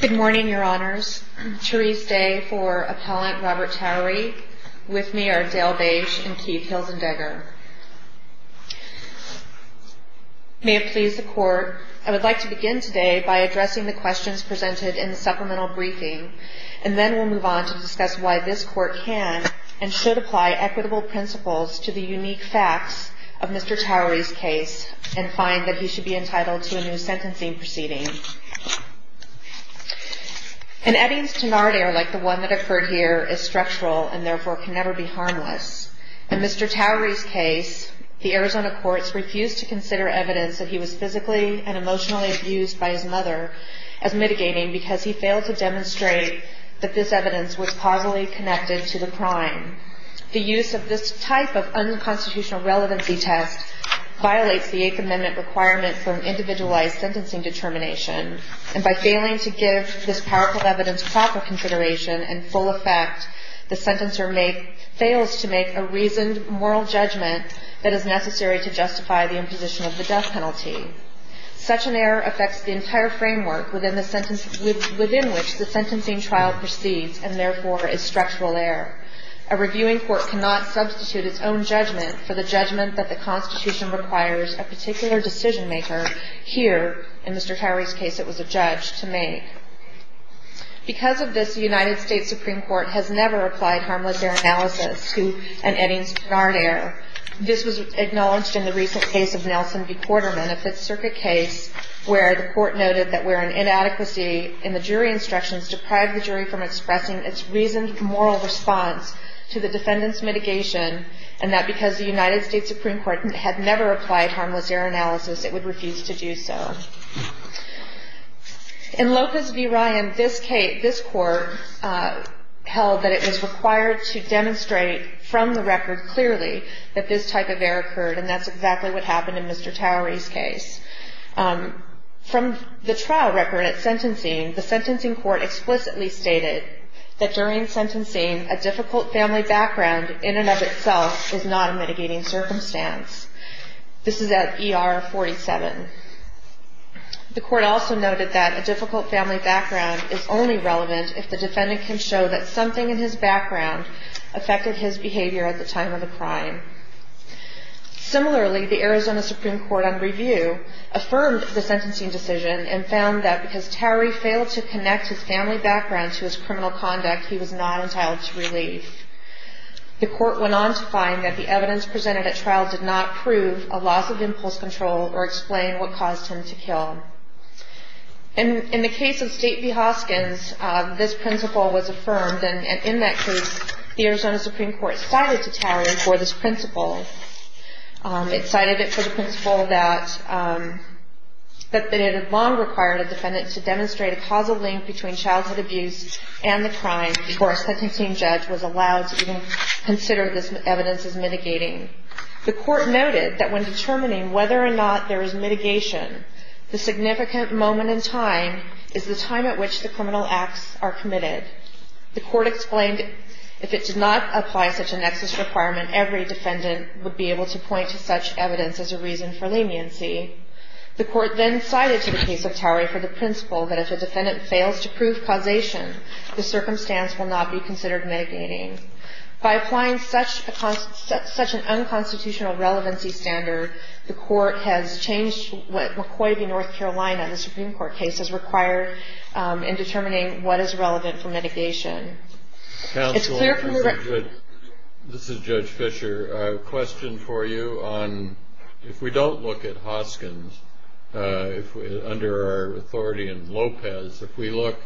Good morning, Your Honors. Therese Day for Appellant Robert Towery. With me are Dale Beige and Keith Hilzendegger. May it please the Court, I would like to begin today by addressing the questions presented in the supplemental briefing, and then we'll move on to discuss why this Court can and should apply equitable principles to the unique facts of Mr. Towery's case and find that he should be entitled to a new sentencing proceeding. An Eddings-Tenard heir like the one that occurred here is structural and therefore can never be harmless. In Mr. Towery's case, the Arizona courts refused to consider evidence that he was physically and emotionally abused by his mother as mitigating because he failed to demonstrate that this evidence was causally connected to the crime. The use of this type of unconstitutional relevancy test violates the Eighth Amendment requirement for an individualized sentencing determination, and by failing to give this powerful evidence proper consideration and full effect, the sentencer fails to make a reasoned moral judgment that is necessary to justify the imposition of the death penalty. Such an error affects the entire framework within which the sentencing trial proceeds and therefore is structural error. A reviewing court cannot substitute its own judgment for the judgment that the Constitution requires a particular decision-maker here, in Mr. Towery's case it was a judge, to make. Because of this, the United States Supreme Court has never applied harmless bear analysis to an Eddings-Tenard heir. This was acknowledged in the recent case of Nelson v. Quarterman, a Fifth Circuit case, where the court noted that where an inadequacy in the jury instructions deprived the jury from expressing its reasoned moral response to the defendant's mitigation and that because the United States Supreme Court had never applied harmless bear analysis, it would refuse to do so. In Lopez v. Ryan, this court held that it was required to demonstrate from the record clearly that this type of error occurred, and that's exactly what happened in Mr. Towery's case. From the trial record at sentencing, the sentencing court explicitly stated that during sentencing, a difficult family background in and of itself is not a mitigating circumstance. This is at ER 47. The court also noted that a difficult family background is only relevant if the defendant can show that something in his background affected his behavior at the time of the crime. Similarly, the Arizona Supreme Court on review affirmed the sentencing decision and found that because Towery failed to connect his family background to his criminal conduct, he was not entitled to relief. The court went on to find that the evidence presented at trial did not prove a loss of impulse control or explain what caused him to kill. In the case of State v. Hoskins, this principle was affirmed, and in that case, the Arizona Supreme Court cited to Towery for this principle. It cited it for the principle that it had long required a defendant to demonstrate a causal link between childhood abuse and the crime before a sentencing judge was allowed to even consider this evidence as mitigating. The court noted that when determining whether or not there is mitigation, the significant moment in time is the time at which the criminal acts are committed. The court explained if it did not apply such a nexus requirement, every defendant would be able to point to such evidence as a reason for leniency. The court then cited to the case of Towery for the principle that if a defendant fails to prove causation, the circumstance will not be considered mitigating. By applying such an unconstitutional relevancy standard, the court has changed what McCoy v. North Carolina, the Supreme Court case, has required in determining what is relevant for mitigation. Counsel, this is Judge Fisher. A question for you on if we don't look at Hoskins under our authority in Lopez, if we look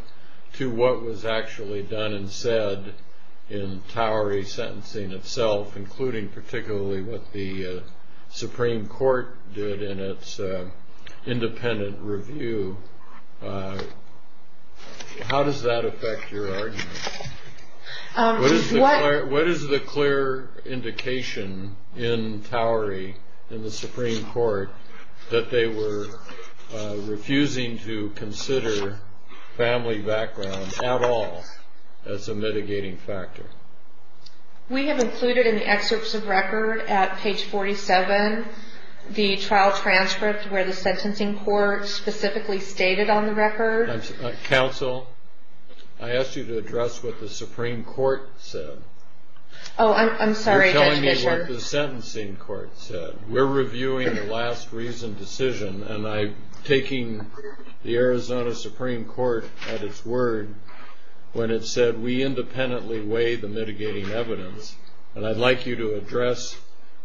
to what was actually done and said in Towery sentencing itself, including particularly what the Supreme Court did in its independent review, how does that affect your argument? What is the clear indication in Towery in the Supreme Court that they were refusing to consider family background at all as a mitigating factor? We have included in the excerpts of record at page 47 the trial transcript where the sentencing court specifically stated on the record. Counsel, I asked you to address what the Supreme Court said. Oh, I'm sorry, Judge Fisher. You're telling me what the sentencing court said. We're reviewing the last reason decision, and I'm taking the Arizona Supreme Court at its word when it said we independently weigh the mitigating evidence. And I'd like you to address,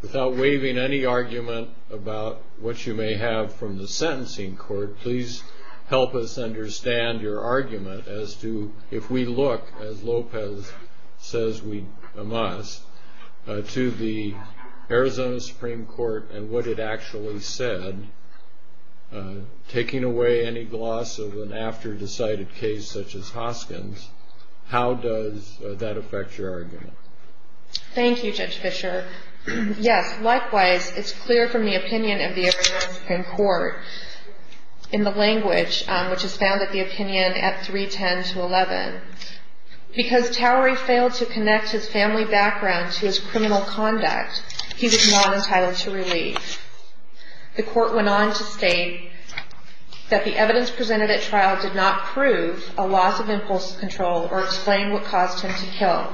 without waiving any argument about what you may have from the sentencing court, please help us understand your argument as to if we look, as Lopez says we must, to the Arizona Supreme Court and what it actually said, taking away any gloss of an after-decided case such as Hoskin's, how does that affect your argument? Thank you, Judge Fisher. Yes, likewise, it's clear from the opinion of the Arizona Supreme Court in the language which is found at the opinion at 310 to 11. Because Towery failed to connect his family background to his criminal conduct, he was not entitled to relief. The court went on to state that the evidence presented at trial did not prove a loss of impulse control or explain what caused him to kill.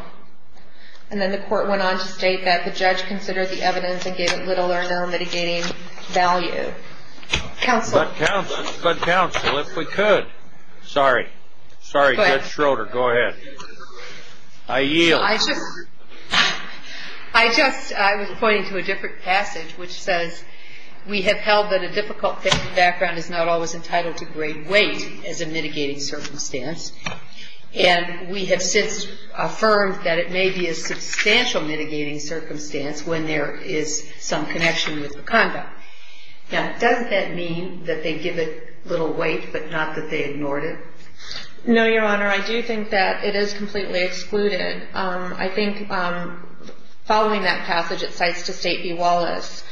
And then the court went on to state that the judge considered the evidence and gave it little or no mitigating value. Counsel. But counsel, if we could. Sorry. Sorry, Judge Schroeder. Go ahead. I yield. I was pointing to a different passage which says we have held that a difficult family background is not always entitled to great weight as a mitigating circumstance. And we have since affirmed that it may be a substantial mitigating circumstance when there is some connection with the conduct. Now, doesn't that mean that they give it little weight but not that they ignored it? No, Your Honor. I do think that it is completely excluded. I think following that passage, it cites to State v. Wallace,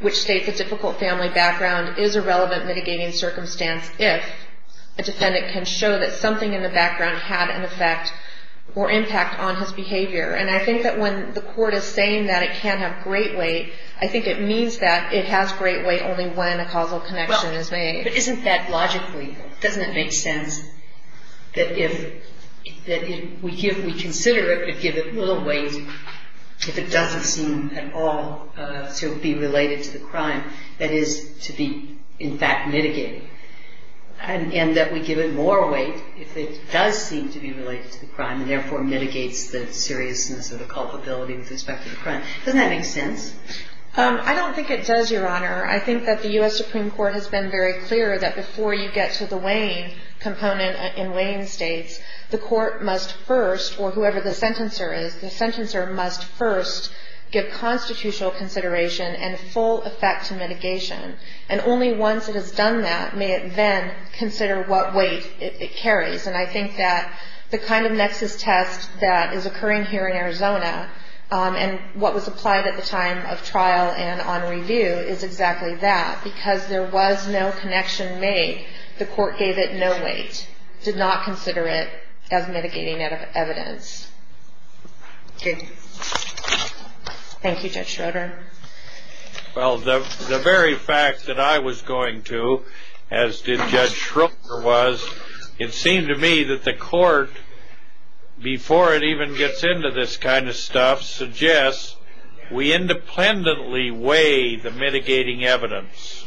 which states a difficult family background is a relevant mitigating circumstance if a defendant can show that something in the background had an effect or impact on his behavior. And I think that when the court is saying that it can't have great weight, I think it means that it has great weight only when a causal connection is made. But isn't that logically, doesn't it make sense that if we consider it, we give it little weight if it doesn't seem at all to be related to the crime, that is to be in fact mitigated. And that we give it more weight if it does seem to be related to the crime and therefore mitigates the seriousness of the culpability with respect to the crime. Doesn't that make sense? I don't think it does, Your Honor. I think that the U.S. Supreme Court has been very clear that before you get to the weighing component in weighing states, the court must first, or whoever the sentencer is, the sentencer must first give constitutional consideration and full effect to mitigation. And only once it has done that may it then consider what weight it carries. And I think that the kind of nexus test that is occurring here in Arizona and what was applied at the time of trial and on review is exactly that. Because there was no connection made, the court gave it no weight, did not consider it as mitigating evidence. Thank you. Thank you, Judge Schroeder. Well, the very fact that I was going to, as did Judge Schroeder, was it seemed to me that the court, before it even gets into this kind of stuff, suggests we independently weigh the mitigating evidence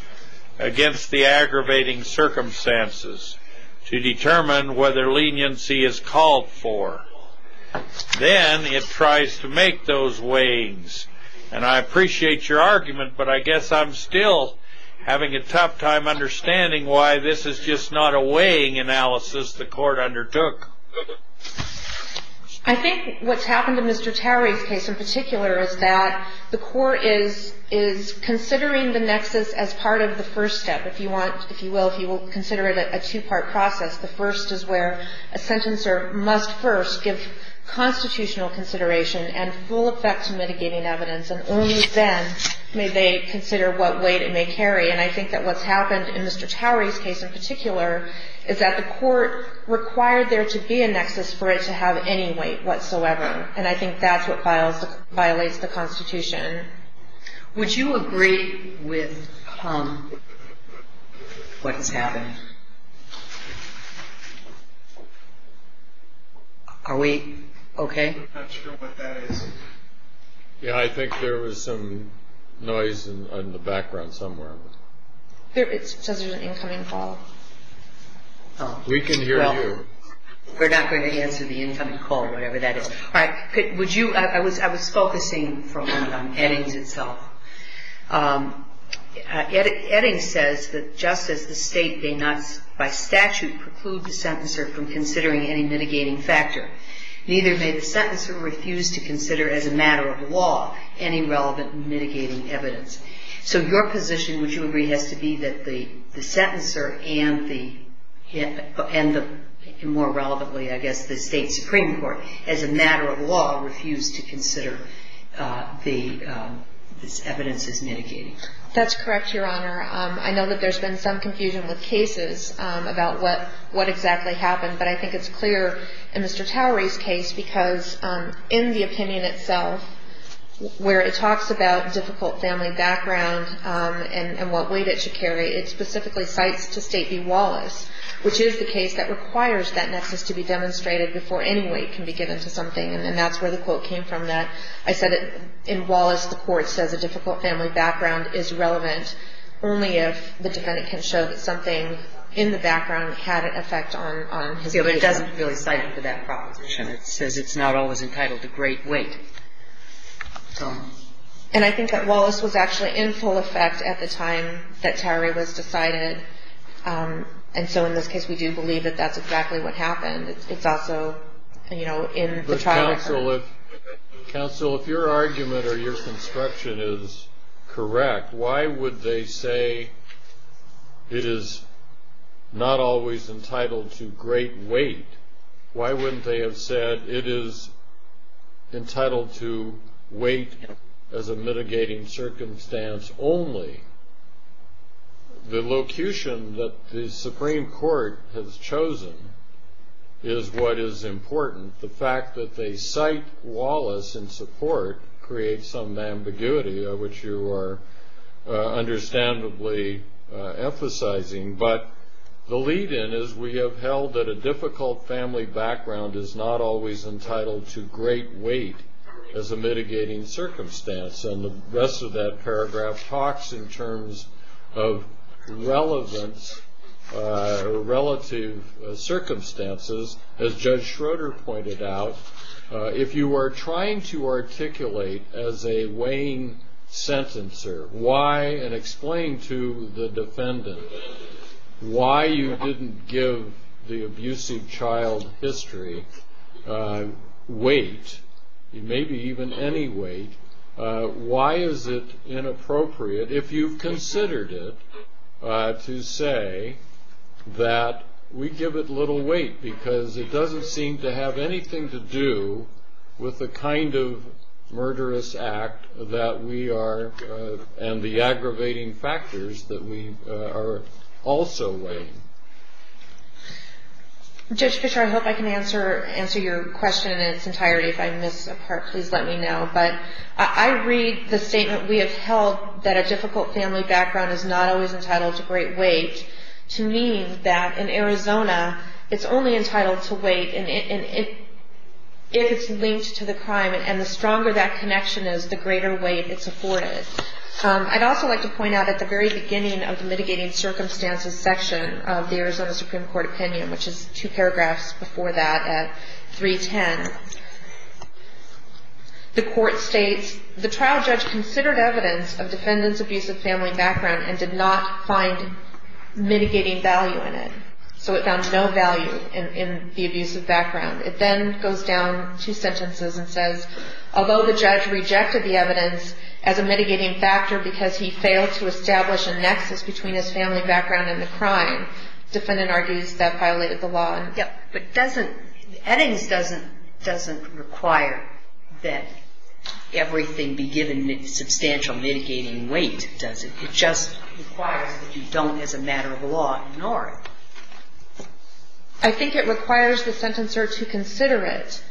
against the aggravating circumstances to determine whether leniency is called for. Then it tries to make those weighings. And I appreciate your argument, but I guess I'm still having a tough time understanding why this is just not a weighing analysis the court undertook. I think what's happened in Mr. Tarry's case in particular is that the court is considering the nexus as part of the first step, if you will, if you will consider it a two-part process. The first is where a sentencer must first give constitutional consideration and full effect to mitigating evidence. And only then may they consider what weight it may carry. And I think that what's happened in Mr. Tarry's case in particular is that the court required there to be a nexus for it to have any weight whatsoever. And I think that's what violates the Constitution. Would you agree with what has happened? Are we okay? I'm not sure what that is. Yeah, I think there was some noise in the background somewhere. It says there's an incoming call. We can hear you. We're not going to answer the incoming call, whatever that is. I was focusing for a moment on Eddings itself. Eddings says that just as the state may not by statute preclude the sentencer from considering any mitigating factor, neither may the sentencer refuse to consider as a matter of law any relevant mitigating evidence. So your position, would you agree, has to be that the sentencer and the, more relevantly, I guess, the state Supreme Court, as a matter of law, refuse to consider this evidence as mitigating? That's correct, Your Honor. I know that there's been some confusion with cases about what exactly happened, but I think it's clear in Mr. Towery's case because in the opinion itself, where it talks about difficult family background and what weight it should carry, it specifically cites to State v. Wallace, which is the case that requires that nexus to be demonstrated before any weight can be given to something, and that's where the quote came from. I said in Wallace the court says a difficult family background is relevant only if the defendant can show that something in the background had an effect on his weight. But it doesn't really cite him for that proposition. It says it's not always entitled to great weight. And I think that Wallace was actually in full effect at the time that Towery was decided, and so in this case we do believe that that's exactly what happened. It's also in the trial record. Counsel, if your argument or your construction is correct, why would they say it is not always entitled to great weight? Why wouldn't they have said it is entitled to weight as a mitigating circumstance only? The locution that the Supreme Court has chosen is what is important. The fact that they cite Wallace in support creates some ambiguity, which you are understandably emphasizing. But the lead-in is we have held that a difficult family background is not always entitled to great weight as a mitigating circumstance, and the rest of that paragraph talks in terms of relevance relative circumstances, as Judge Schroeder pointed out. If you are trying to articulate as a weighing sentencer why, and explain to the defendant, why you didn't give the abusive child history weight, maybe even any weight, why is it inappropriate, if you've considered it, to say that we give it little weight, because it doesn't seem to have anything to do with the kind of murderous act that we are, and the aggravating factors that we are also weighing. Judge Fischer, I hope I can answer your question in its entirety. If I miss a part, please let me know. But I read the statement, we have held that a difficult family background is not always entitled to great weight, to mean that in Arizona, it's only entitled to weight if it's linked to the crime, and the stronger that connection is, the greater weight it's afforded. I'd also like to point out at the very beginning of the mitigating circumstances section of the Arizona Supreme Court opinion, which is two paragraphs before that at 310, the court states, the trial judge considered evidence of defendant's abusive family background and did not find mitigating value in it. So it found no value in the abusive background. It then goes down two sentences and says, although the judge rejected the evidence as a mitigating factor because he failed to establish a nexus between his family background and the crime, defendant argues that violated the law. But doesn't, Eddings doesn't require that everything be given substantial mitigating weight, does it? It just requires that you don't, as a matter of law, ignore it. I think it requires the sentencer to consider it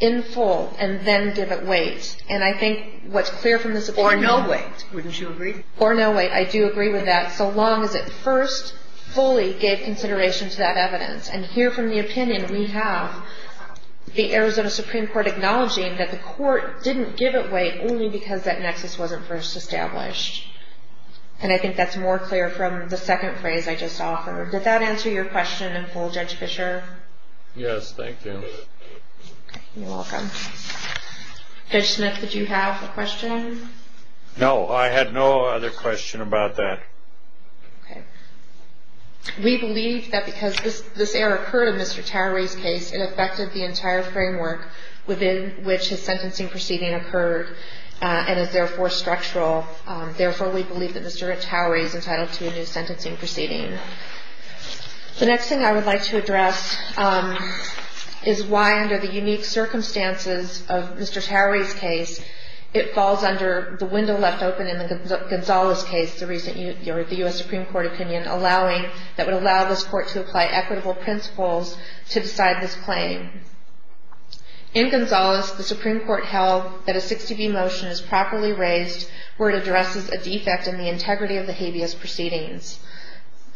in full and then give it weight. And I think what's clear from this opinion... Or no weight. Wouldn't you agree? Or no weight. I do agree with that, so long as it first fully gave consideration to that evidence. And here from the opinion we have, the Arizona Supreme Court acknowledging that the court didn't give it weight only because that nexus wasn't first established. And I think that's more clear from the second phrase I just offered. Did that answer your question in full, Judge Fischer? Yes, thank you. You're welcome. Judge Smith, did you have a question? No, I had no other question about that. Okay. We believe that because this error occurred in Mr. Towery's case, it affected the entire framework within which his sentencing proceeding occurred and is therefore structural. Therefore, we believe that Mr. Towery is entitled to a new sentencing proceeding. The next thing I would like to address is why, under the unique circumstances of Mr. Towery's case, it falls under the window left open in the Gonzales case, the U.S. Supreme Court opinion, that would allow this court to apply equitable principles to decide this claim. In Gonzales, the Supreme Court held that a 60B motion is properly raised where it addresses a defect in the integrity of the habeas proceedings.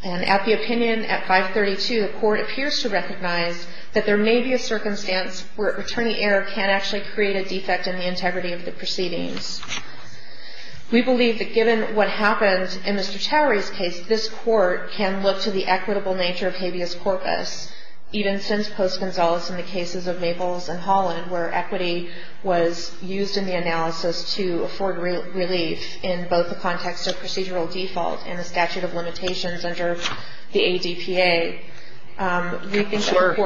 And at the opinion at 532, the court appears to recognize that there may be a circumstance where attorney error can actually create a defect in the integrity of the proceedings. We believe that given what happened in Mr. Towery's case, this court can look to the equitable nature of habeas corpus, even since post-Gonzales in the cases of Maples and Holland, where equity was used in the analysis to afford relief in both the context of procedural default and the statute of limitations under the ADPA. Counselor,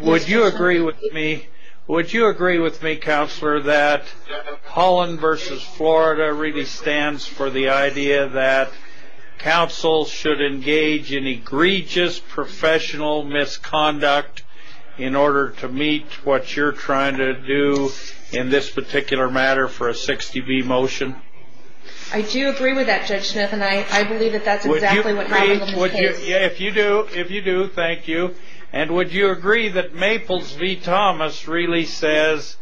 would you agree with me, Counselor, that Holland v. Florida really stands for the idea that counsel should engage in egregious professional misconduct in order to meet what you're trying to do in this particular matter for a 60B motion? I do agree with that, Judge Smith, and I believe that that's exactly what happened in this case. If you do, thank you. And would you agree that Maples v. Thomas really says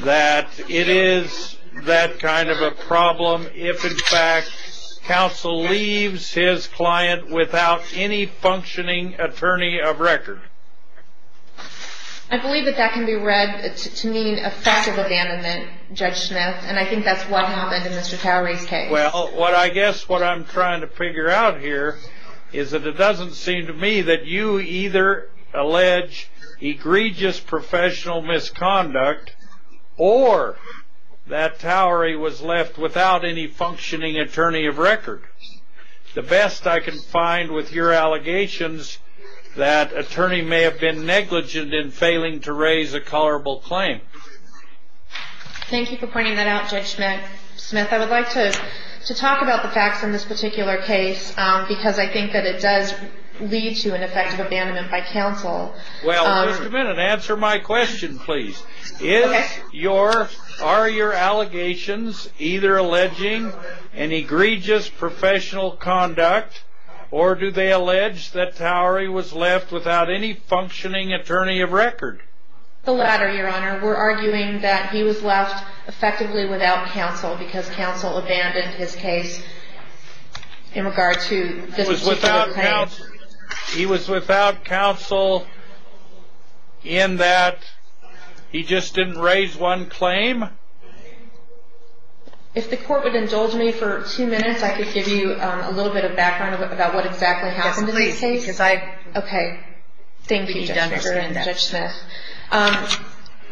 that it is that kind of a problem if, in fact, counsel leaves his client without any functioning attorney of record? I believe that that can be read to mean offensive abandonment, Judge Smith, and I think that's what happened in Mr. Towery's case. Well, I guess what I'm trying to figure out here is that it doesn't seem to me that you either allege egregious professional misconduct or that Towery was left without any functioning attorney of record. The best I can find with your allegations, that attorney may have been negligent in failing to raise a colorable claim. Thank you for pointing that out, Judge Smith. I would like to talk about the facts in this particular case because I think that it does lead to an effective abandonment by counsel. Well, wait a minute. Answer my question, please. Are your allegations either alleging an egregious professional conduct or do they allege that Towery was left without any functioning attorney of record? The latter, Your Honor. We're arguing that he was left effectively without counsel because counsel abandoned his case in regard to this particular claim. He was without counsel in that he just didn't raise one claim? If the court would indulge me for two minutes, I could give you a little bit of background about what exactly happened in this case. Yes, please. Okay. Thank you, Judge Smith.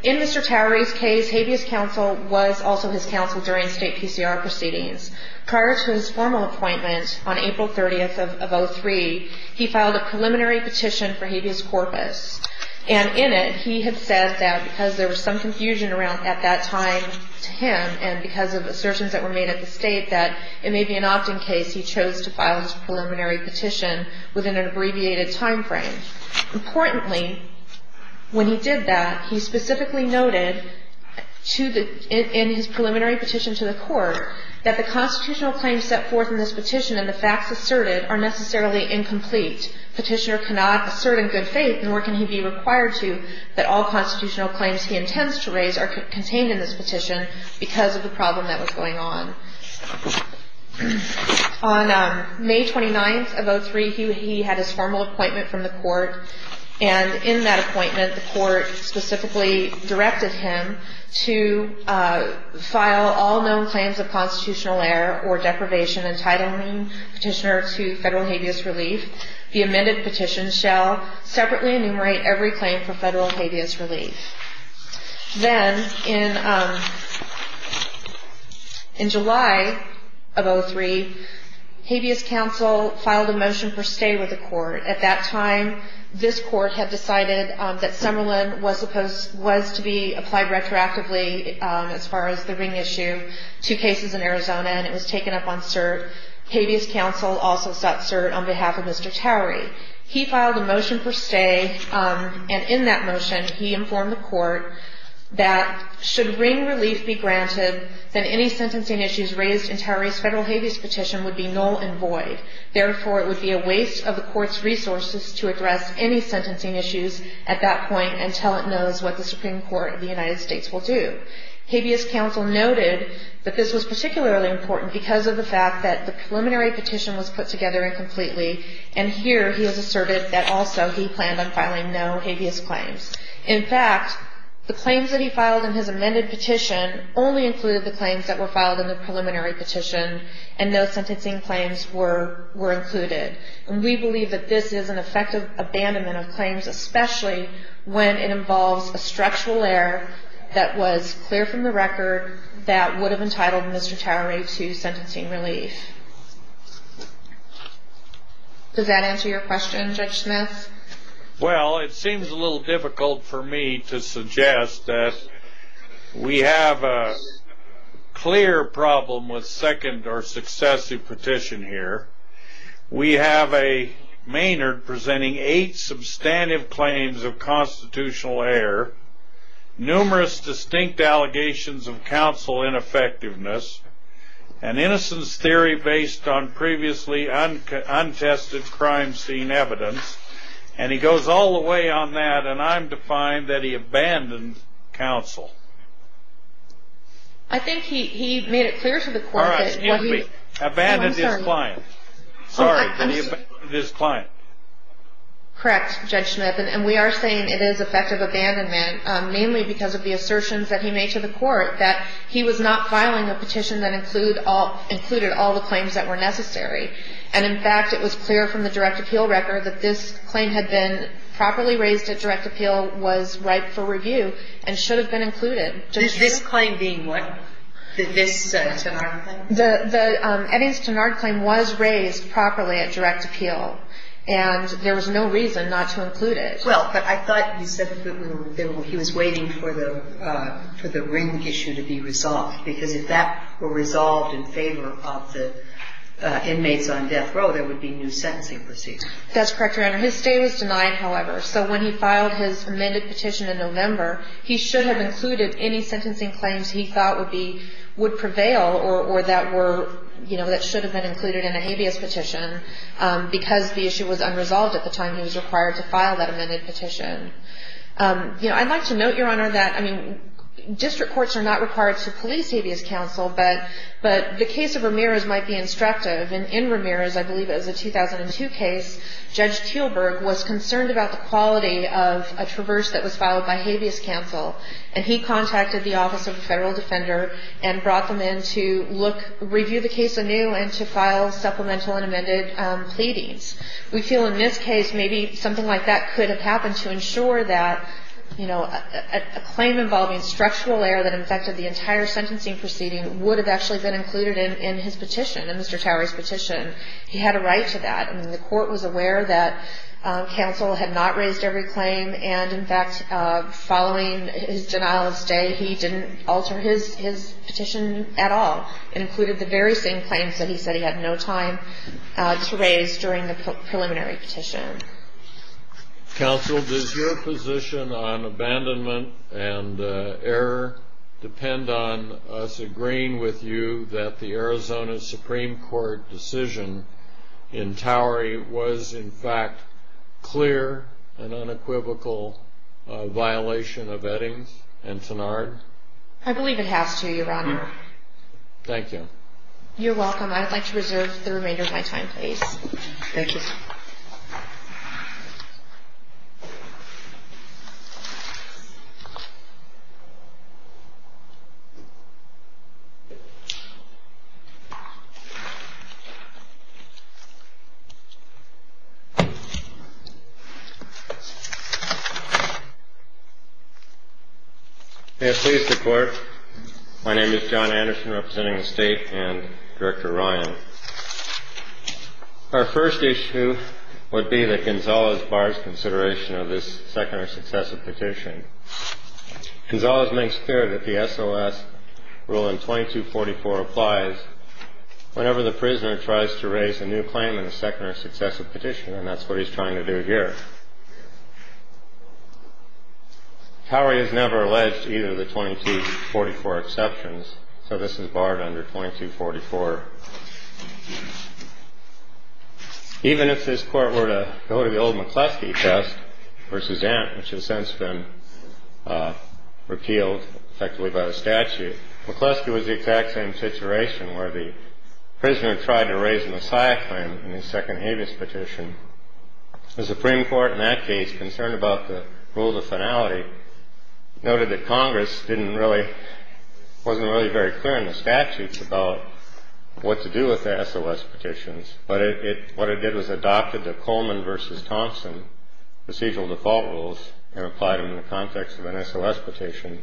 In Mr. Towery's case, habeas counsel was also his counsel during state PCR proceedings. Prior to his formal appointment on April 30th of 2003, he filed a preliminary petition for habeas corpus. And in it, he had said that because there was some confusion at that time to him and because of assertions that were made at the state that it may be an opt-in case, he chose to file his preliminary petition within an abbreviated timeframe. Importantly, when he did that, he specifically noted in his preliminary petition to the court that the constitutional claims set forth in this petition and the facts asserted are necessarily incomplete. Petitioner cannot assert in good faith, nor can he be required to, that all constitutional claims he intends to raise are contained in this petition because of the problem that was going on. On May 29th of 2003, he had his formal appointment from the court. And in that appointment, the court specifically directed him to file all known claims of constitutional error or deprivation entitling petitioner to federal habeas relief. The amended petition shall separately enumerate every claim for federal habeas relief. Then, in July of 2003, habeas counsel filed a motion for stay with the court. At that time, this court had decided that Summerlin was to be applied retroactively as far as the ring issue, two cases in Arizona, and it was taken up on cert. Habeas counsel also sought cert on behalf of Mr. Towery. He filed a motion for stay, and in that motion, he informed the court that should ring relief be granted, then any sentencing issues raised in Towery's federal habeas petition would be null and void. Therefore, it would be a waste of the court's resources to address any sentencing issues at that point until it knows what the Supreme Court of the United States will do. Habeas counsel noted that this was particularly important because of the fact that the preliminary petition was put together incompletely, and here he has asserted that also he planned on filing no habeas claims. In fact, the claims that he filed in his amended petition only included the claims that were filed in the preliminary petition, and no sentencing claims were included. And we believe that this is an effective abandonment of claims, especially when it involves a structural error that was clear from the record that would have entitled Mr. Towery to sentencing relief. Does that answer your question, Judge Smith? Well, it seems a little difficult for me to suggest that we have a clear problem with second or successive petition here. We have a Maynard presenting eight substantive claims of constitutional error, numerous distinct allegations of counsel ineffectiveness, an innocence theory based on previously untested crime scene evidence, and he goes all the way on that, and I'm defined that he abandoned counsel. I think he made it clear to the court that he abandoned his client. Sorry, that he abandoned his client. Correct, Judge Smith. And we are saying it is effective abandonment, mainly because of the assertions that he made to the court that he was not filing a petition that included all the claims that were necessary. And, in fact, it was clear from the direct appeal record that this claim had been properly raised at direct appeal, was ripe for review, and should have been included. This claim being what? This Tenard claim? The Eddings-Tenard claim was raised properly at direct appeal, and there was no reason not to include it. Well, but I thought you said that he was waiting for the ring issue to be resolved, because if that were resolved in favor of the inmates on death row, there would be new sentencing proceedings. That's correct, Your Honor. His stay was denied, however, so when he filed his amended petition in November, he should have included any sentencing claims he thought would prevail or that should have been included in a habeas petition, because the issue was unresolved at the time he was required to file that amended petition. I'd like to note, Your Honor, that district courts are not required to police habeas counsel, but the case of Ramirez might be instructive. And in Ramirez, I believe it was a 2002 case, Judge Kuehlberg was concerned about the quality of a traverse that was filed by habeas counsel, and he contacted the Office of the Federal Defender and brought them in to look, review the case anew and to file supplemental and amended pleadings. We feel in this case maybe something like that could have happened to ensure that, you know, a claim involving structural error that affected the entire sentencing proceeding would have actually been included in his petition, in Mr. Towery's petition. He had a right to that. I mean, the court was aware that counsel had not raised every claim, and in fact, following his denial of stay, he didn't alter his petition at all and included the very same claims that he said he had no time to raise during the preliminary petition. Counsel, does your position on abandonment and error depend on us agreeing with you that the Arizona Supreme Court decision in Towery was, in fact, clear and unequivocal violation of Eddings and Tenard? I believe it has to, Your Honor. Thank you. You're welcome. I'd like to reserve the remainder of my time, please. Thank you. May it please the Court, my name is John Anderson representing the State and Director Ryan. Our first issue would be that Gonzalez bars consideration of this second or successive petition. Gonzalez makes clear that the S.O.S. Rule in 2244 applies whenever the prisoner tries to raise a new claim in a second or successive petition, and that's what he's trying to do here. Towery has never alleged either of the 2244 exceptions, so this is barred under 2244. Even if this Court were to go to the old McCleskey test versus Ant, which has since been repealed effectively by the statute, McCleskey was the exact same situation where the prisoner tried to raise a Messiah claim in the second habeas petition. The Supreme Court in that case, concerned about the rule of finality, noted that Congress wasn't really very clear in the statutes about what to do with the S.O.S. petitions, but what it did was adopted the Coleman v. Thompson procedural default rules and applied them in the context of an S.O.S. petition,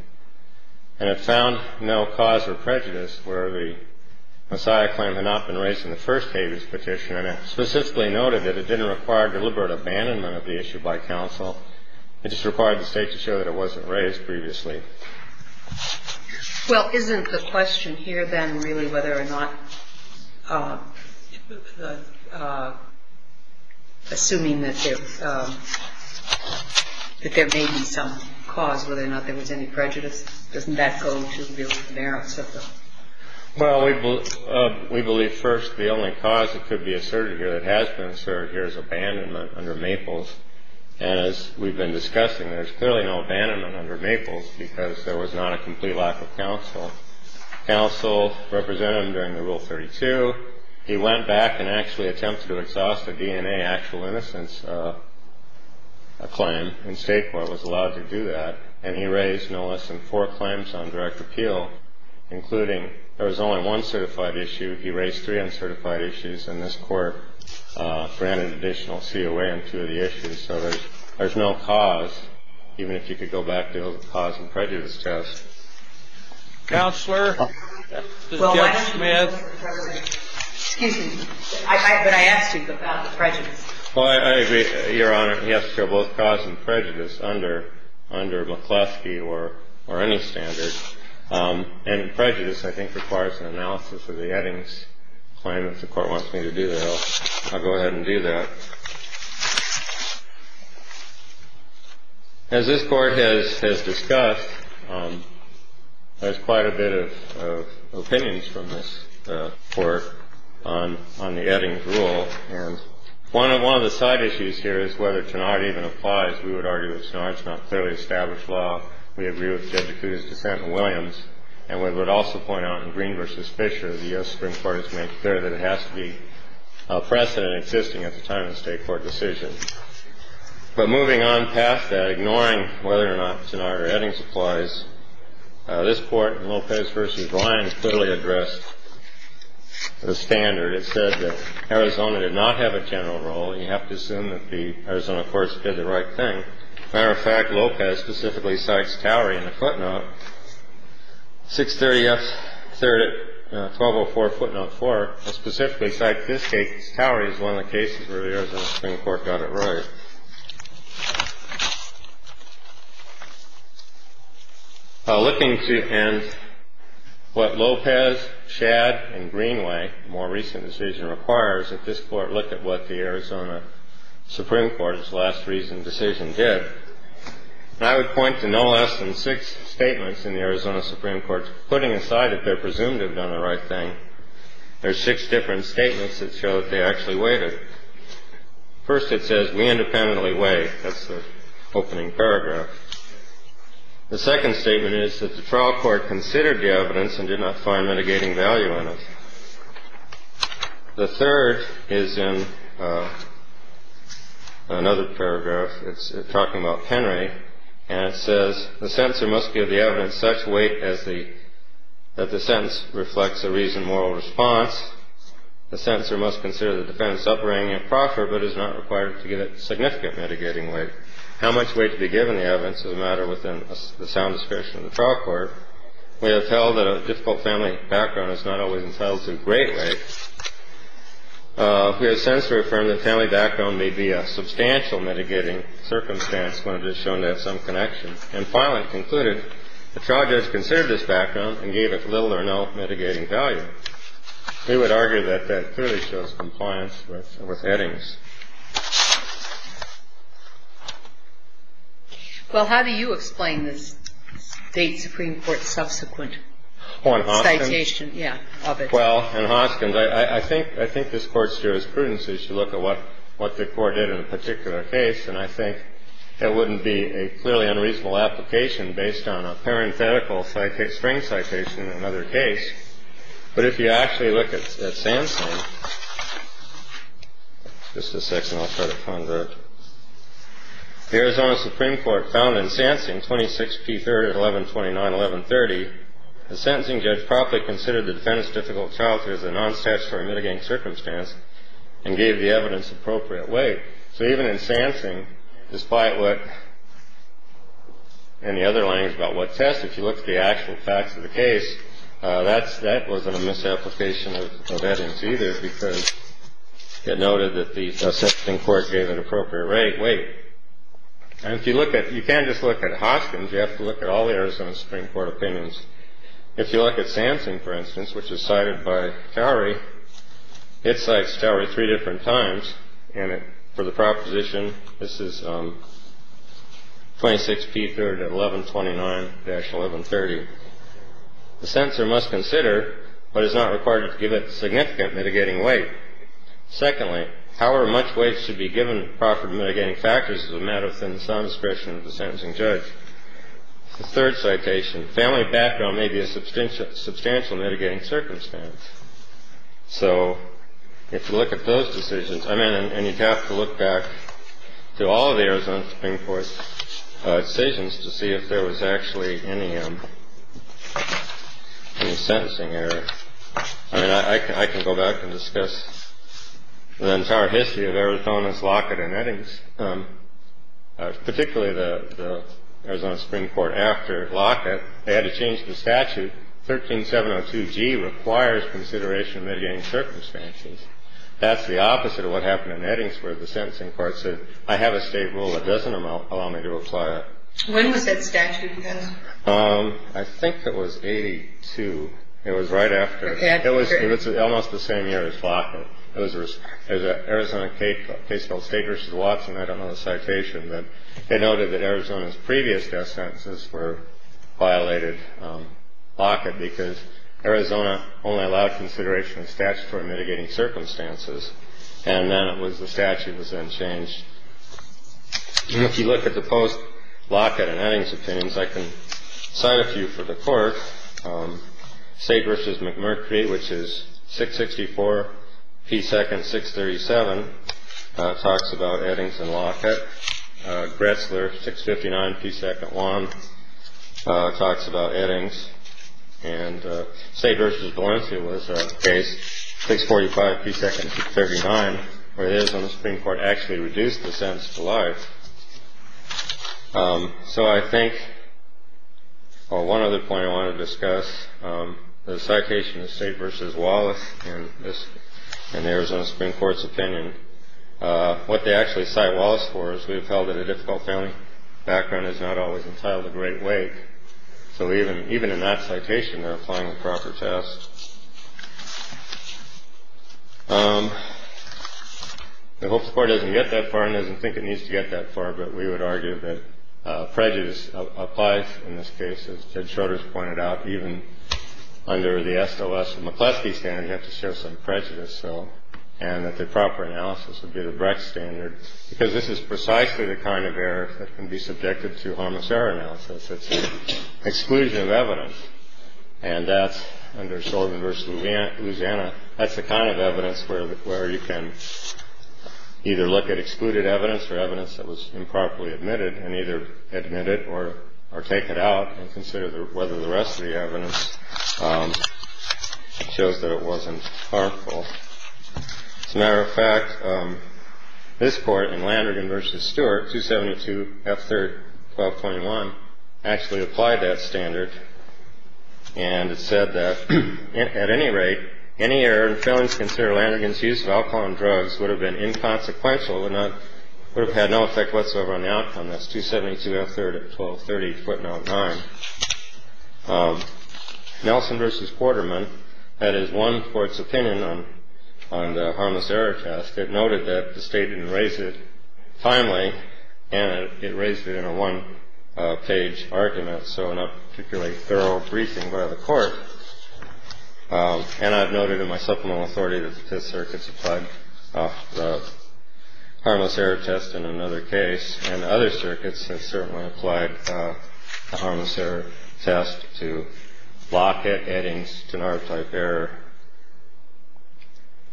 and it found no cause for prejudice where the Messiah claim had not been raised in the first habeas petition, and it specifically noted that it didn't require deliberate abandonment of the issue by counsel. It just required the state to show that it wasn't raised previously. Well, isn't the question here then really whether or not, assuming that there may be some cause, whether or not there was any prejudice, doesn't that go to the merits of the... Well, we believe first the only cause that could be asserted here that has been asserted here is abandonment under Maples, and as we've been discussing, there's clearly no abandonment under Maples because there was not a complete lack of counsel. Counsel represented him during the Rule 32. He went back and actually attempted to exhaust a DNA actual innocence claim, and state court was allowed to do that, and he raised no less than four claims on direct appeal, including there was only one certified issue. He raised three uncertified issues, and this court granted additional COA on two of the issues, so there's no cause, even if you could go back to the cause and prejudice test. Counselor? Judge Smith? Excuse me, but I asked you about the prejudice. Well, I agree, Your Honor. He has to show both cause and prejudice under McCloskey or any standard, and prejudice, I think, requires an analysis of the Eddings claim. If the Court wants me to do that, I'll go ahead and do that. As this Court has discussed, there's quite a bit of opinions from this Court on the Eddings rule, and one of the side issues here is whether Tenard even applies. We would argue that Tenard's not clearly established law. We agree with Judge Acuda's dissent in Williams, and we would also point out in Green v. Fisher, the Supreme Court has made clear that it has to be a precedent existing at the time of the Supreme Court. But moving on past that, ignoring whether or not Tenard or Eddings applies, this Court in Lopez v. Ryan clearly addressed the standard. It said that Arizona did not have a general rule, and you have to assume that the Arizona courts did the right thing. As a matter of fact, Lopez specifically cites Towery in the footnote 630F, 1204 footnote 4, and specifically cites this case. Towery is one of the cases where the Arizona Supreme Court got it right. Looking to end what Lopez, Shadd, and Greenway, the more recent decision requires, if this Court looked at what the Arizona Supreme Court's last recent decision did, I would point to no less than six statements in the Arizona Supreme Court putting aside that they're presumed to have done the right thing. There's six different statements that show that they actually waited. First it says, we independently wait. That's the opening paragraph. The second statement is that the trial court considered the evidence and did not find mitigating value in it. The third is in another paragraph. It's talking about Penry, and it says, the sentencer must give the evidence such weight that the sentence reflects a reasoned moral response. The sentencer must consider the defendant's upbringing and proffer, but is not required to give it significant mitigating weight. How much weight to be given the evidence is a matter within the sound description of the trial court. We have held that a difficult family background is not always entitled to great weight. We have sentenced to affirm that family background may be a substantial mitigating circumstance when it is shown to have some connection. And finally, it concluded, the trial judge considered this background and gave it little or no mitigating value. We would argue that that clearly shows compliance with headings. Well, how do you explain this State Supreme Court subsequent citation of it? Well, in Hoskins, I think this Court's jurisprudence is to look at what the Court did in a particular case, and I think that wouldn't be a clearly unreasonable application based on a parenthetical string citation in another case. But if you actually look at Sansing, just a section I'll try to convert, the Arizona Supreme Court found in Sansing, 26p3, 1129, 1130, the sentencing judge properly considered the defendant's difficult childhood as a non-statutory mitigating circumstance and gave the evidence appropriate weight. So even in Sansing, despite what, in the other language about what test, if you look at the actual facts of the case, that wasn't a misapplication of headings either because it noted that the sentencing court gave it appropriate weight. And if you look at, you can't just look at Hoskins, you have to look at all the Arizona Supreme Court opinions. If you look at Sansing, for instance, which is cited by Cowery, it's cited by Cowery three different times, and for the proposition, this is 26p3 at 1129-1130. The sentencer must consider, but is not required to give it significant mitigating weight. Secondly, however much weight should be given proper to mitigating factors is a matter within the sum discretion of the sentencing judge. The third citation, family background may be a substantial mitigating circumstance. So if you look at those decisions, I mean, and you'd have to look back to all the Arizona Supreme Court decisions to see if there was actually any sentencing error. I mean, I can go back and discuss the entire history of Arizona's Lockett and Eddings, particularly the Arizona Supreme Court after Lockett. They had to change the statute. 13702G requires consideration of mitigating circumstances. That's the opposite of what happened in Eddings where the sentencing court said, I have a state rule that doesn't allow me to apply it. When was that statute passed? I think it was 82. It was right after. It was almost the same year as Lockett. There's an Arizona case called Stake v. Watson. I don't know the citation, but it noted that Arizona's previous death sentences were violated Lockett because Arizona only allowed consideration of statutory mitigating circumstances. And then it was the statute was then changed. If you look at the post Lockett and Eddings opinions, I can cite a few for the court. Stake v. McMurphy, which is 664P2 637, talks about Eddings and Lockett. Gretzler 659P2 1 talks about Eddings. And Stake v. Valencia was a case 645P2 639, where it is on the Supreme Court, actually reduced the sentence to life. So I think one other point I want to discuss, the citation of Stake v. Wallace and the Arizona Supreme Court's opinion, what they actually cite Wallace for is we have held that a difficult family background is not always entitled to great weight. So even in that citation, they're applying the proper test. I hope the court doesn't get that far and doesn't think it needs to get that far. But we would argue that prejudice applies in this case, as Ted Schroeder has pointed out, even under the SLS McCleskey standard, you have to show some prejudice. So and that the proper analysis would be the Brecht standard, because this is precisely the kind of error that can be subjected to harmless error analysis. It's an exclusion of evidence. And that's under Sullivan v. Louisiana. That's the kind of evidence where you can either look at excluded evidence or evidence that was improperly admitted and either admit it or take it out and consider whether the rest of the evidence shows that it wasn't harmful. As a matter of fact, this court in Landergan v. Stewart, 272 F. Third, 12.1, actually applied that standard. And it said that at any rate, any error in feelings, consider Landergan's use of alcohol and drugs would have been inconsequential and would have had no effect whatsoever on the outcome. That's 272 F. Third at 1230 foot nine. Nelson v. Quarterman had his one court's opinion on the harmless error test. It noted that the state didn't raise it timely and it raised it in a one page argument. So not particularly thorough briefing by the court. And I've noted in my supplemental authority that the Fifth Circuit supplied the harmless error test in another case. And other circuits have certainly applied the harmless error test to block it, adding to our type error.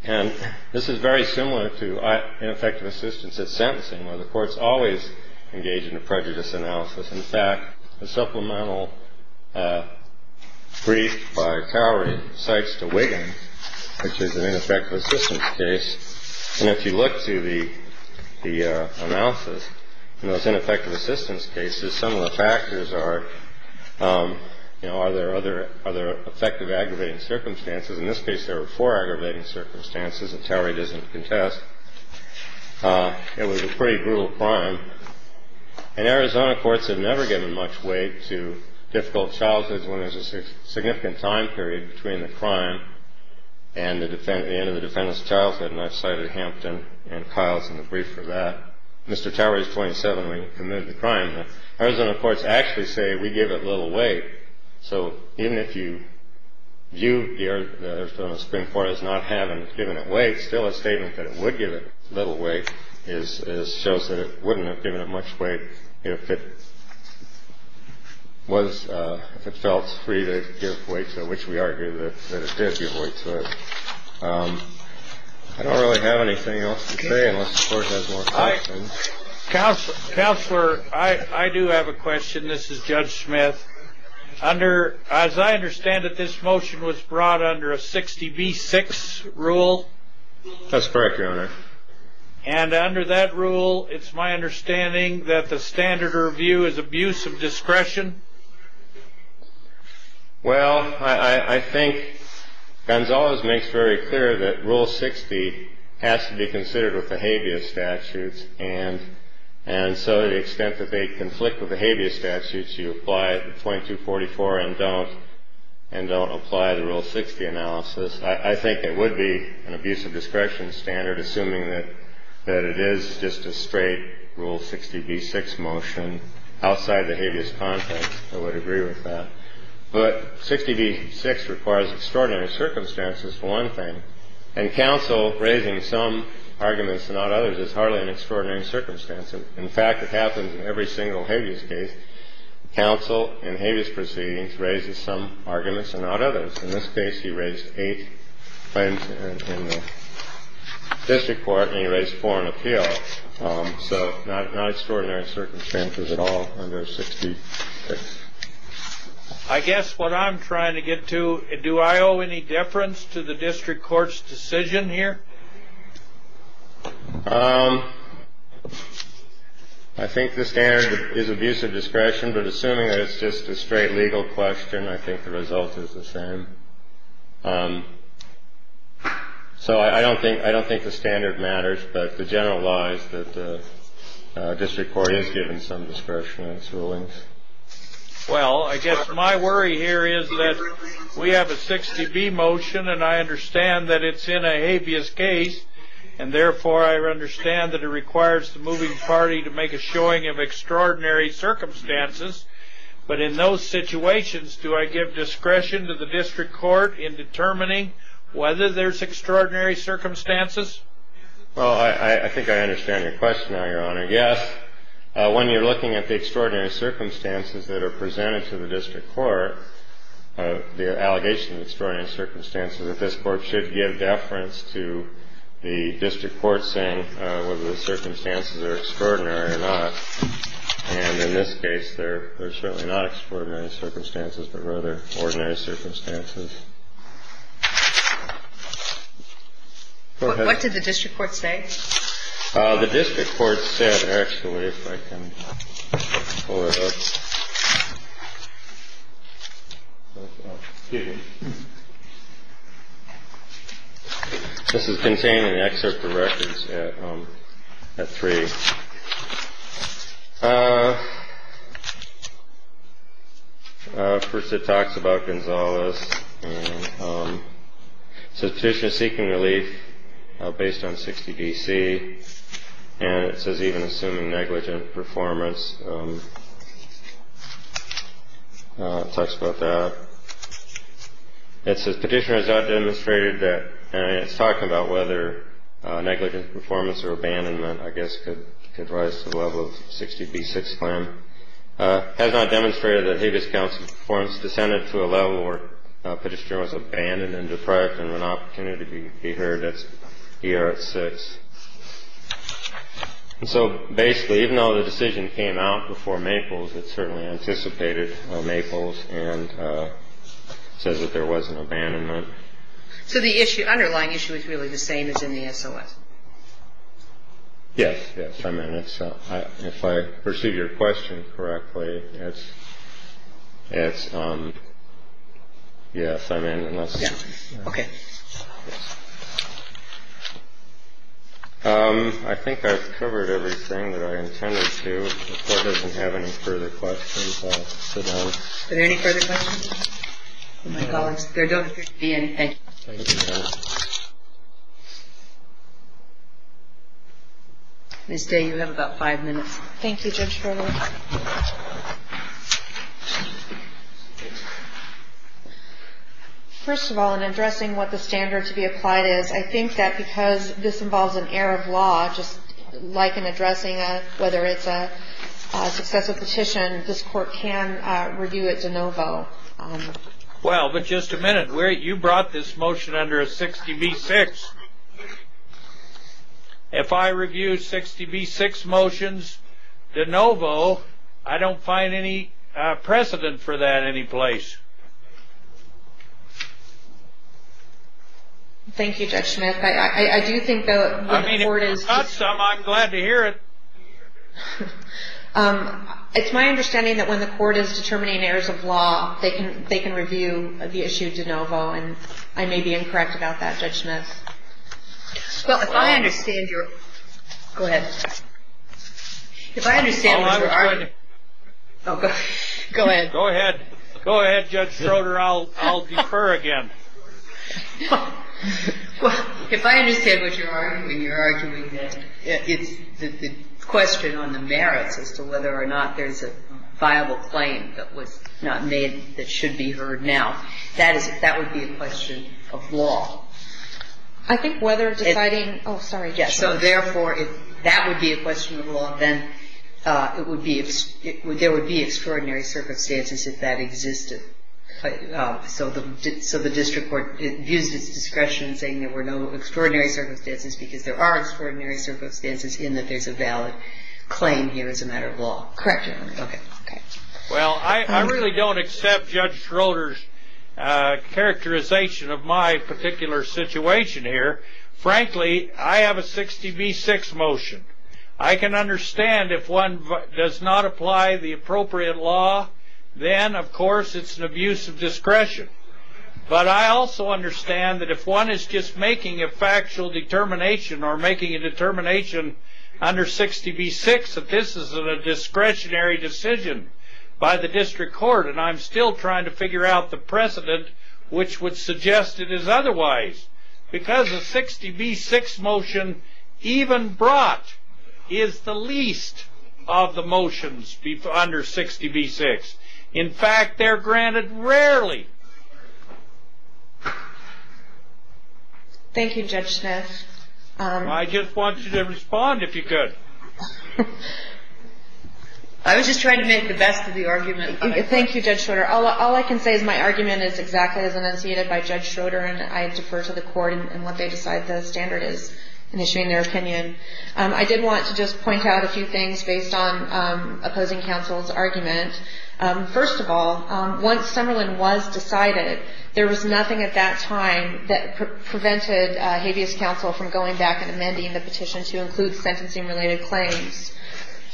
And this is very similar to ineffective assistance at sentencing, where the courts always engage in a prejudice analysis. In fact, the supplemental brief by Cowrie cites to Wiggin, which is an ineffective assistance case. And if you look to the analysis in those ineffective assistance cases, some of the factors are, you know, are there other other effective aggravating circumstances? In this case, there were four aggravating circumstances. And Cowrie doesn't contest. It was a pretty brutal crime. And Arizona courts have never given much weight to difficult childhoods when there's a significant time period between the crime and the defendant, the end of the defendant's childhood. And I've cited Hampton and Kyle's in the brief for that. Mr. Cowrie is 27 when he committed the crime. Arizona courts actually say we give it little weight. So even if you view the Arizona Supreme Court as not having given it weight, still a statement that it would give it little weight shows that it wouldn't have given it much weight if it was, if it felt free to give weight to it, which we argue that it did give weight to it. I don't really have anything else to say unless the court has more questions. Counselor, I do have a question. This is Judge Smith. As I understand it, this motion was brought under a 60B6 rule. That's correct, Your Honor. And under that rule, it's my understanding that the standard to review is abuse of discretion? Well, I think Gonzales makes very clear that Rule 60 has to be considered with the habeas statutes. And so the extent that they conflict with the habeas statutes, you apply it in 2244 and don't apply the Rule 60 analysis. I think it would be an abuse of discretion standard, assuming that it is just a straight Rule 60B6 motion outside the habeas context. I would agree with that. But 60B6 requires extraordinary circumstances for one thing. And counsel raising some arguments and not others is hardly an extraordinary circumstance. In fact, it happens in every single habeas case. Counsel in habeas proceedings raises some arguments and not others. In this case, he raised eight claims in the district court, and he raised four in appeal. So not extraordinary circumstances at all under 60B6. I guess what I'm trying to get to, do I owe any deference to the district court's decision here? I think the standard is abuse of discretion, but assuming that it's just a straight legal question, I think the result is the same. So I don't think the standard matters, but the general lie is that the district court is given some discretion in its rulings. Well, I guess my worry here is that we have a 60B motion, and I understand that it's in a habeas case, and therefore I understand that it requires the moving party to make a showing of extraordinary circumstances. But in those situations, do I give discretion to the district court in determining whether there's extraordinary circumstances? Well, I think I understand your question now, Your Honor. I guess when you're looking at the extraordinary circumstances that are presented to the district court, the allegation of extraordinary circumstances, that this Court should give deference to the district court saying whether the circumstances are extraordinary or not. And in this case, they're certainly not extraordinary circumstances, but rather ordinary circumstances. Go ahead. What did the district court say? The district court said, actually, if I can pull it up. This is contained in the excerpt of records at 3. First, it talks about Gonzalez. It says Petitioner is seeking relief based on 60 B.C., and it says even assuming negligent performance. It talks about that. It says Petitioner has not demonstrated that, and it's talking about whether negligent performance or abandonment, I guess, could rise to the level of 60 B.C. Has not demonstrated that habeas council performance descended to a level where Petitioner was abandoned and deprived of an opportunity to be heard here at 6. And so basically, even though the decision came out before Maples, it certainly anticipated Maples and says that there was an abandonment. So the underlying issue is really the same as in the S.O.S. Yes. I mean, if I perceive your question correctly, it's yes, I mean, unless. OK. I think I've covered everything that I intended to have any further questions. Any further questions? My colleagues, there don't seem to be anything. This day, you have about five minutes. Thank you, Judge. First of all, in addressing what the standard to be applied is, I think that because this involves an air of law, just like in addressing whether it's a successful petition, this court can review it de novo. Well, but just a minute where you brought this motion under a 60 B.C. If I review 60 B.C. motions de novo, I don't find any precedent for that any place. Thank you, Judge Smith. I do think that the court is. I'm glad to hear it. It's my understanding that when the court is determining airs of law, they can review the issue de novo. And I may be incorrect about that, Judge Smith. Well, if I understand your. Go ahead. If I understand. Go ahead. Go ahead, Judge Schroeder. Judge Schroeder, I'll defer again. Well, if I understand what you're arguing, you're arguing that it's the question on the merits as to whether or not there's a viable claim that was not made that should be heard now. That would be a question of law. I think whether deciding. Oh, sorry. Yes. So therefore, if that would be a question of law, then it would be. There would be extraordinary circumstances if that existed. So the district court uses discretion saying there were no extraordinary circumstances because there are extraordinary circumstances in that there's a valid claim here as a matter of law. Correct. OK. Well, I really don't accept Judge Schroeder's characterization of my particular situation here. Frankly, I have a 60 v. 6 motion. I can understand if one does not apply the appropriate law. Then, of course, it's an abuse of discretion. But I also understand that if one is just making a factual determination or making a determination under 60 v. 6, that this is a discretionary decision by the district court. And I'm still trying to figure out the precedent which would suggest it is otherwise. Because a 60 v. 6 motion even brought is the least of the motions under 60 v. 6. In fact, they're granted rarely. Thank you, Judge Smith. I just want you to respond if you could. I was just trying to make the best of the argument. Thank you, Judge Schroeder. All I can say is my argument is exactly as enunciated by Judge Schroeder. And I defer to the court in what they decide the standard is in issuing their opinion. I did want to just point out a few things based on opposing counsel's argument. First of all, once Summerlin was decided, there was nothing at that time that prevented habeas counsel from going back and amending the petition to include sentencing-related claims.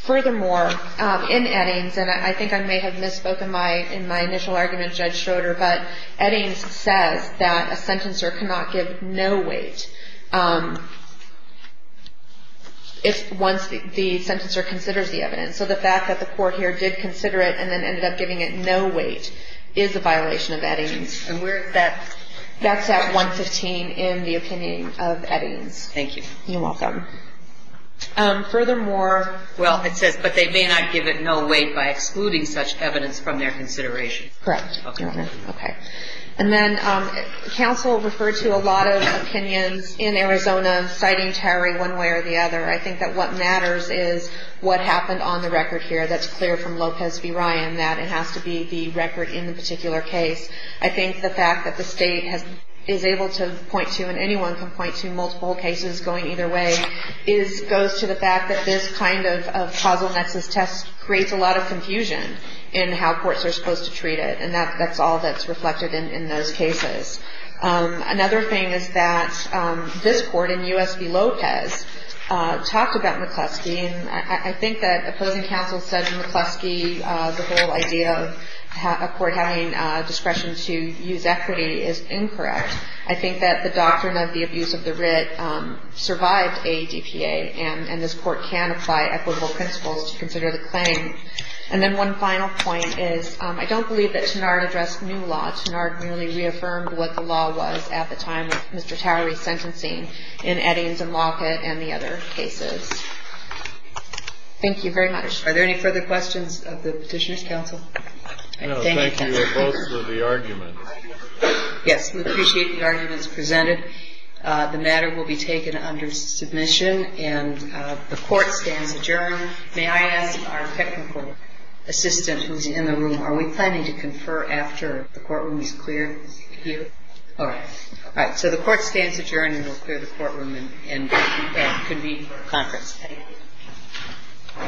Furthermore, in Eddings, and I think I may have misspoke in my initial argument, Judge Schroeder, but Eddings says that a sentencer cannot give no weight once the sentencer considers the evidence. So the fact that the court here did consider it and then ended up giving it no weight is a violation of Eddings. And where is that? That's at 115 in the opinion of Eddings. Thank you. You're welcome. Furthermore, well, it says, but they may not give it no weight by excluding such evidence from their consideration. Correct. Okay. And then counsel referred to a lot of opinions in Arizona, citing Terry one way or the other. I think that what matters is what happened on the record here. That's clear from Lopez v. Ryan, that it has to be the record in the particular case. I think the fact that the state is able to point to, and anyone can point to multiple cases going either way, goes to the fact that this kind of causal nexus test creates a lot of confusion in how courts are supposed to treat it. And that's all that's reflected in those cases. Another thing is that this court in U.S. v. Lopez talked about McCluskey. And I think that opposing counsel said McCluskey, the whole idea of a court having discretion to use equity is incorrect. I think that the doctrine of the abuse of the writ survived ADPA, and this court can apply equitable principles to consider the claim. And then one final point is I don't believe that Tenard addressed new law. Tenard merely reaffirmed what the law was at the time of Mr. Towery's sentencing in Eddings and Lockett and the other cases. Thank you very much. Are there any further questions of the Petitioner's counsel? No, thank you. We're close to the argument. Yes, we appreciate the arguments presented. The matter will be taken under submission, and the court stands adjourned. May I ask our technical assistant who's in the room, are we planning to confer after the courtroom is cleared? Here. All right. So the court stands adjourned, and we'll clear the courtroom and convene for conference. Thank you.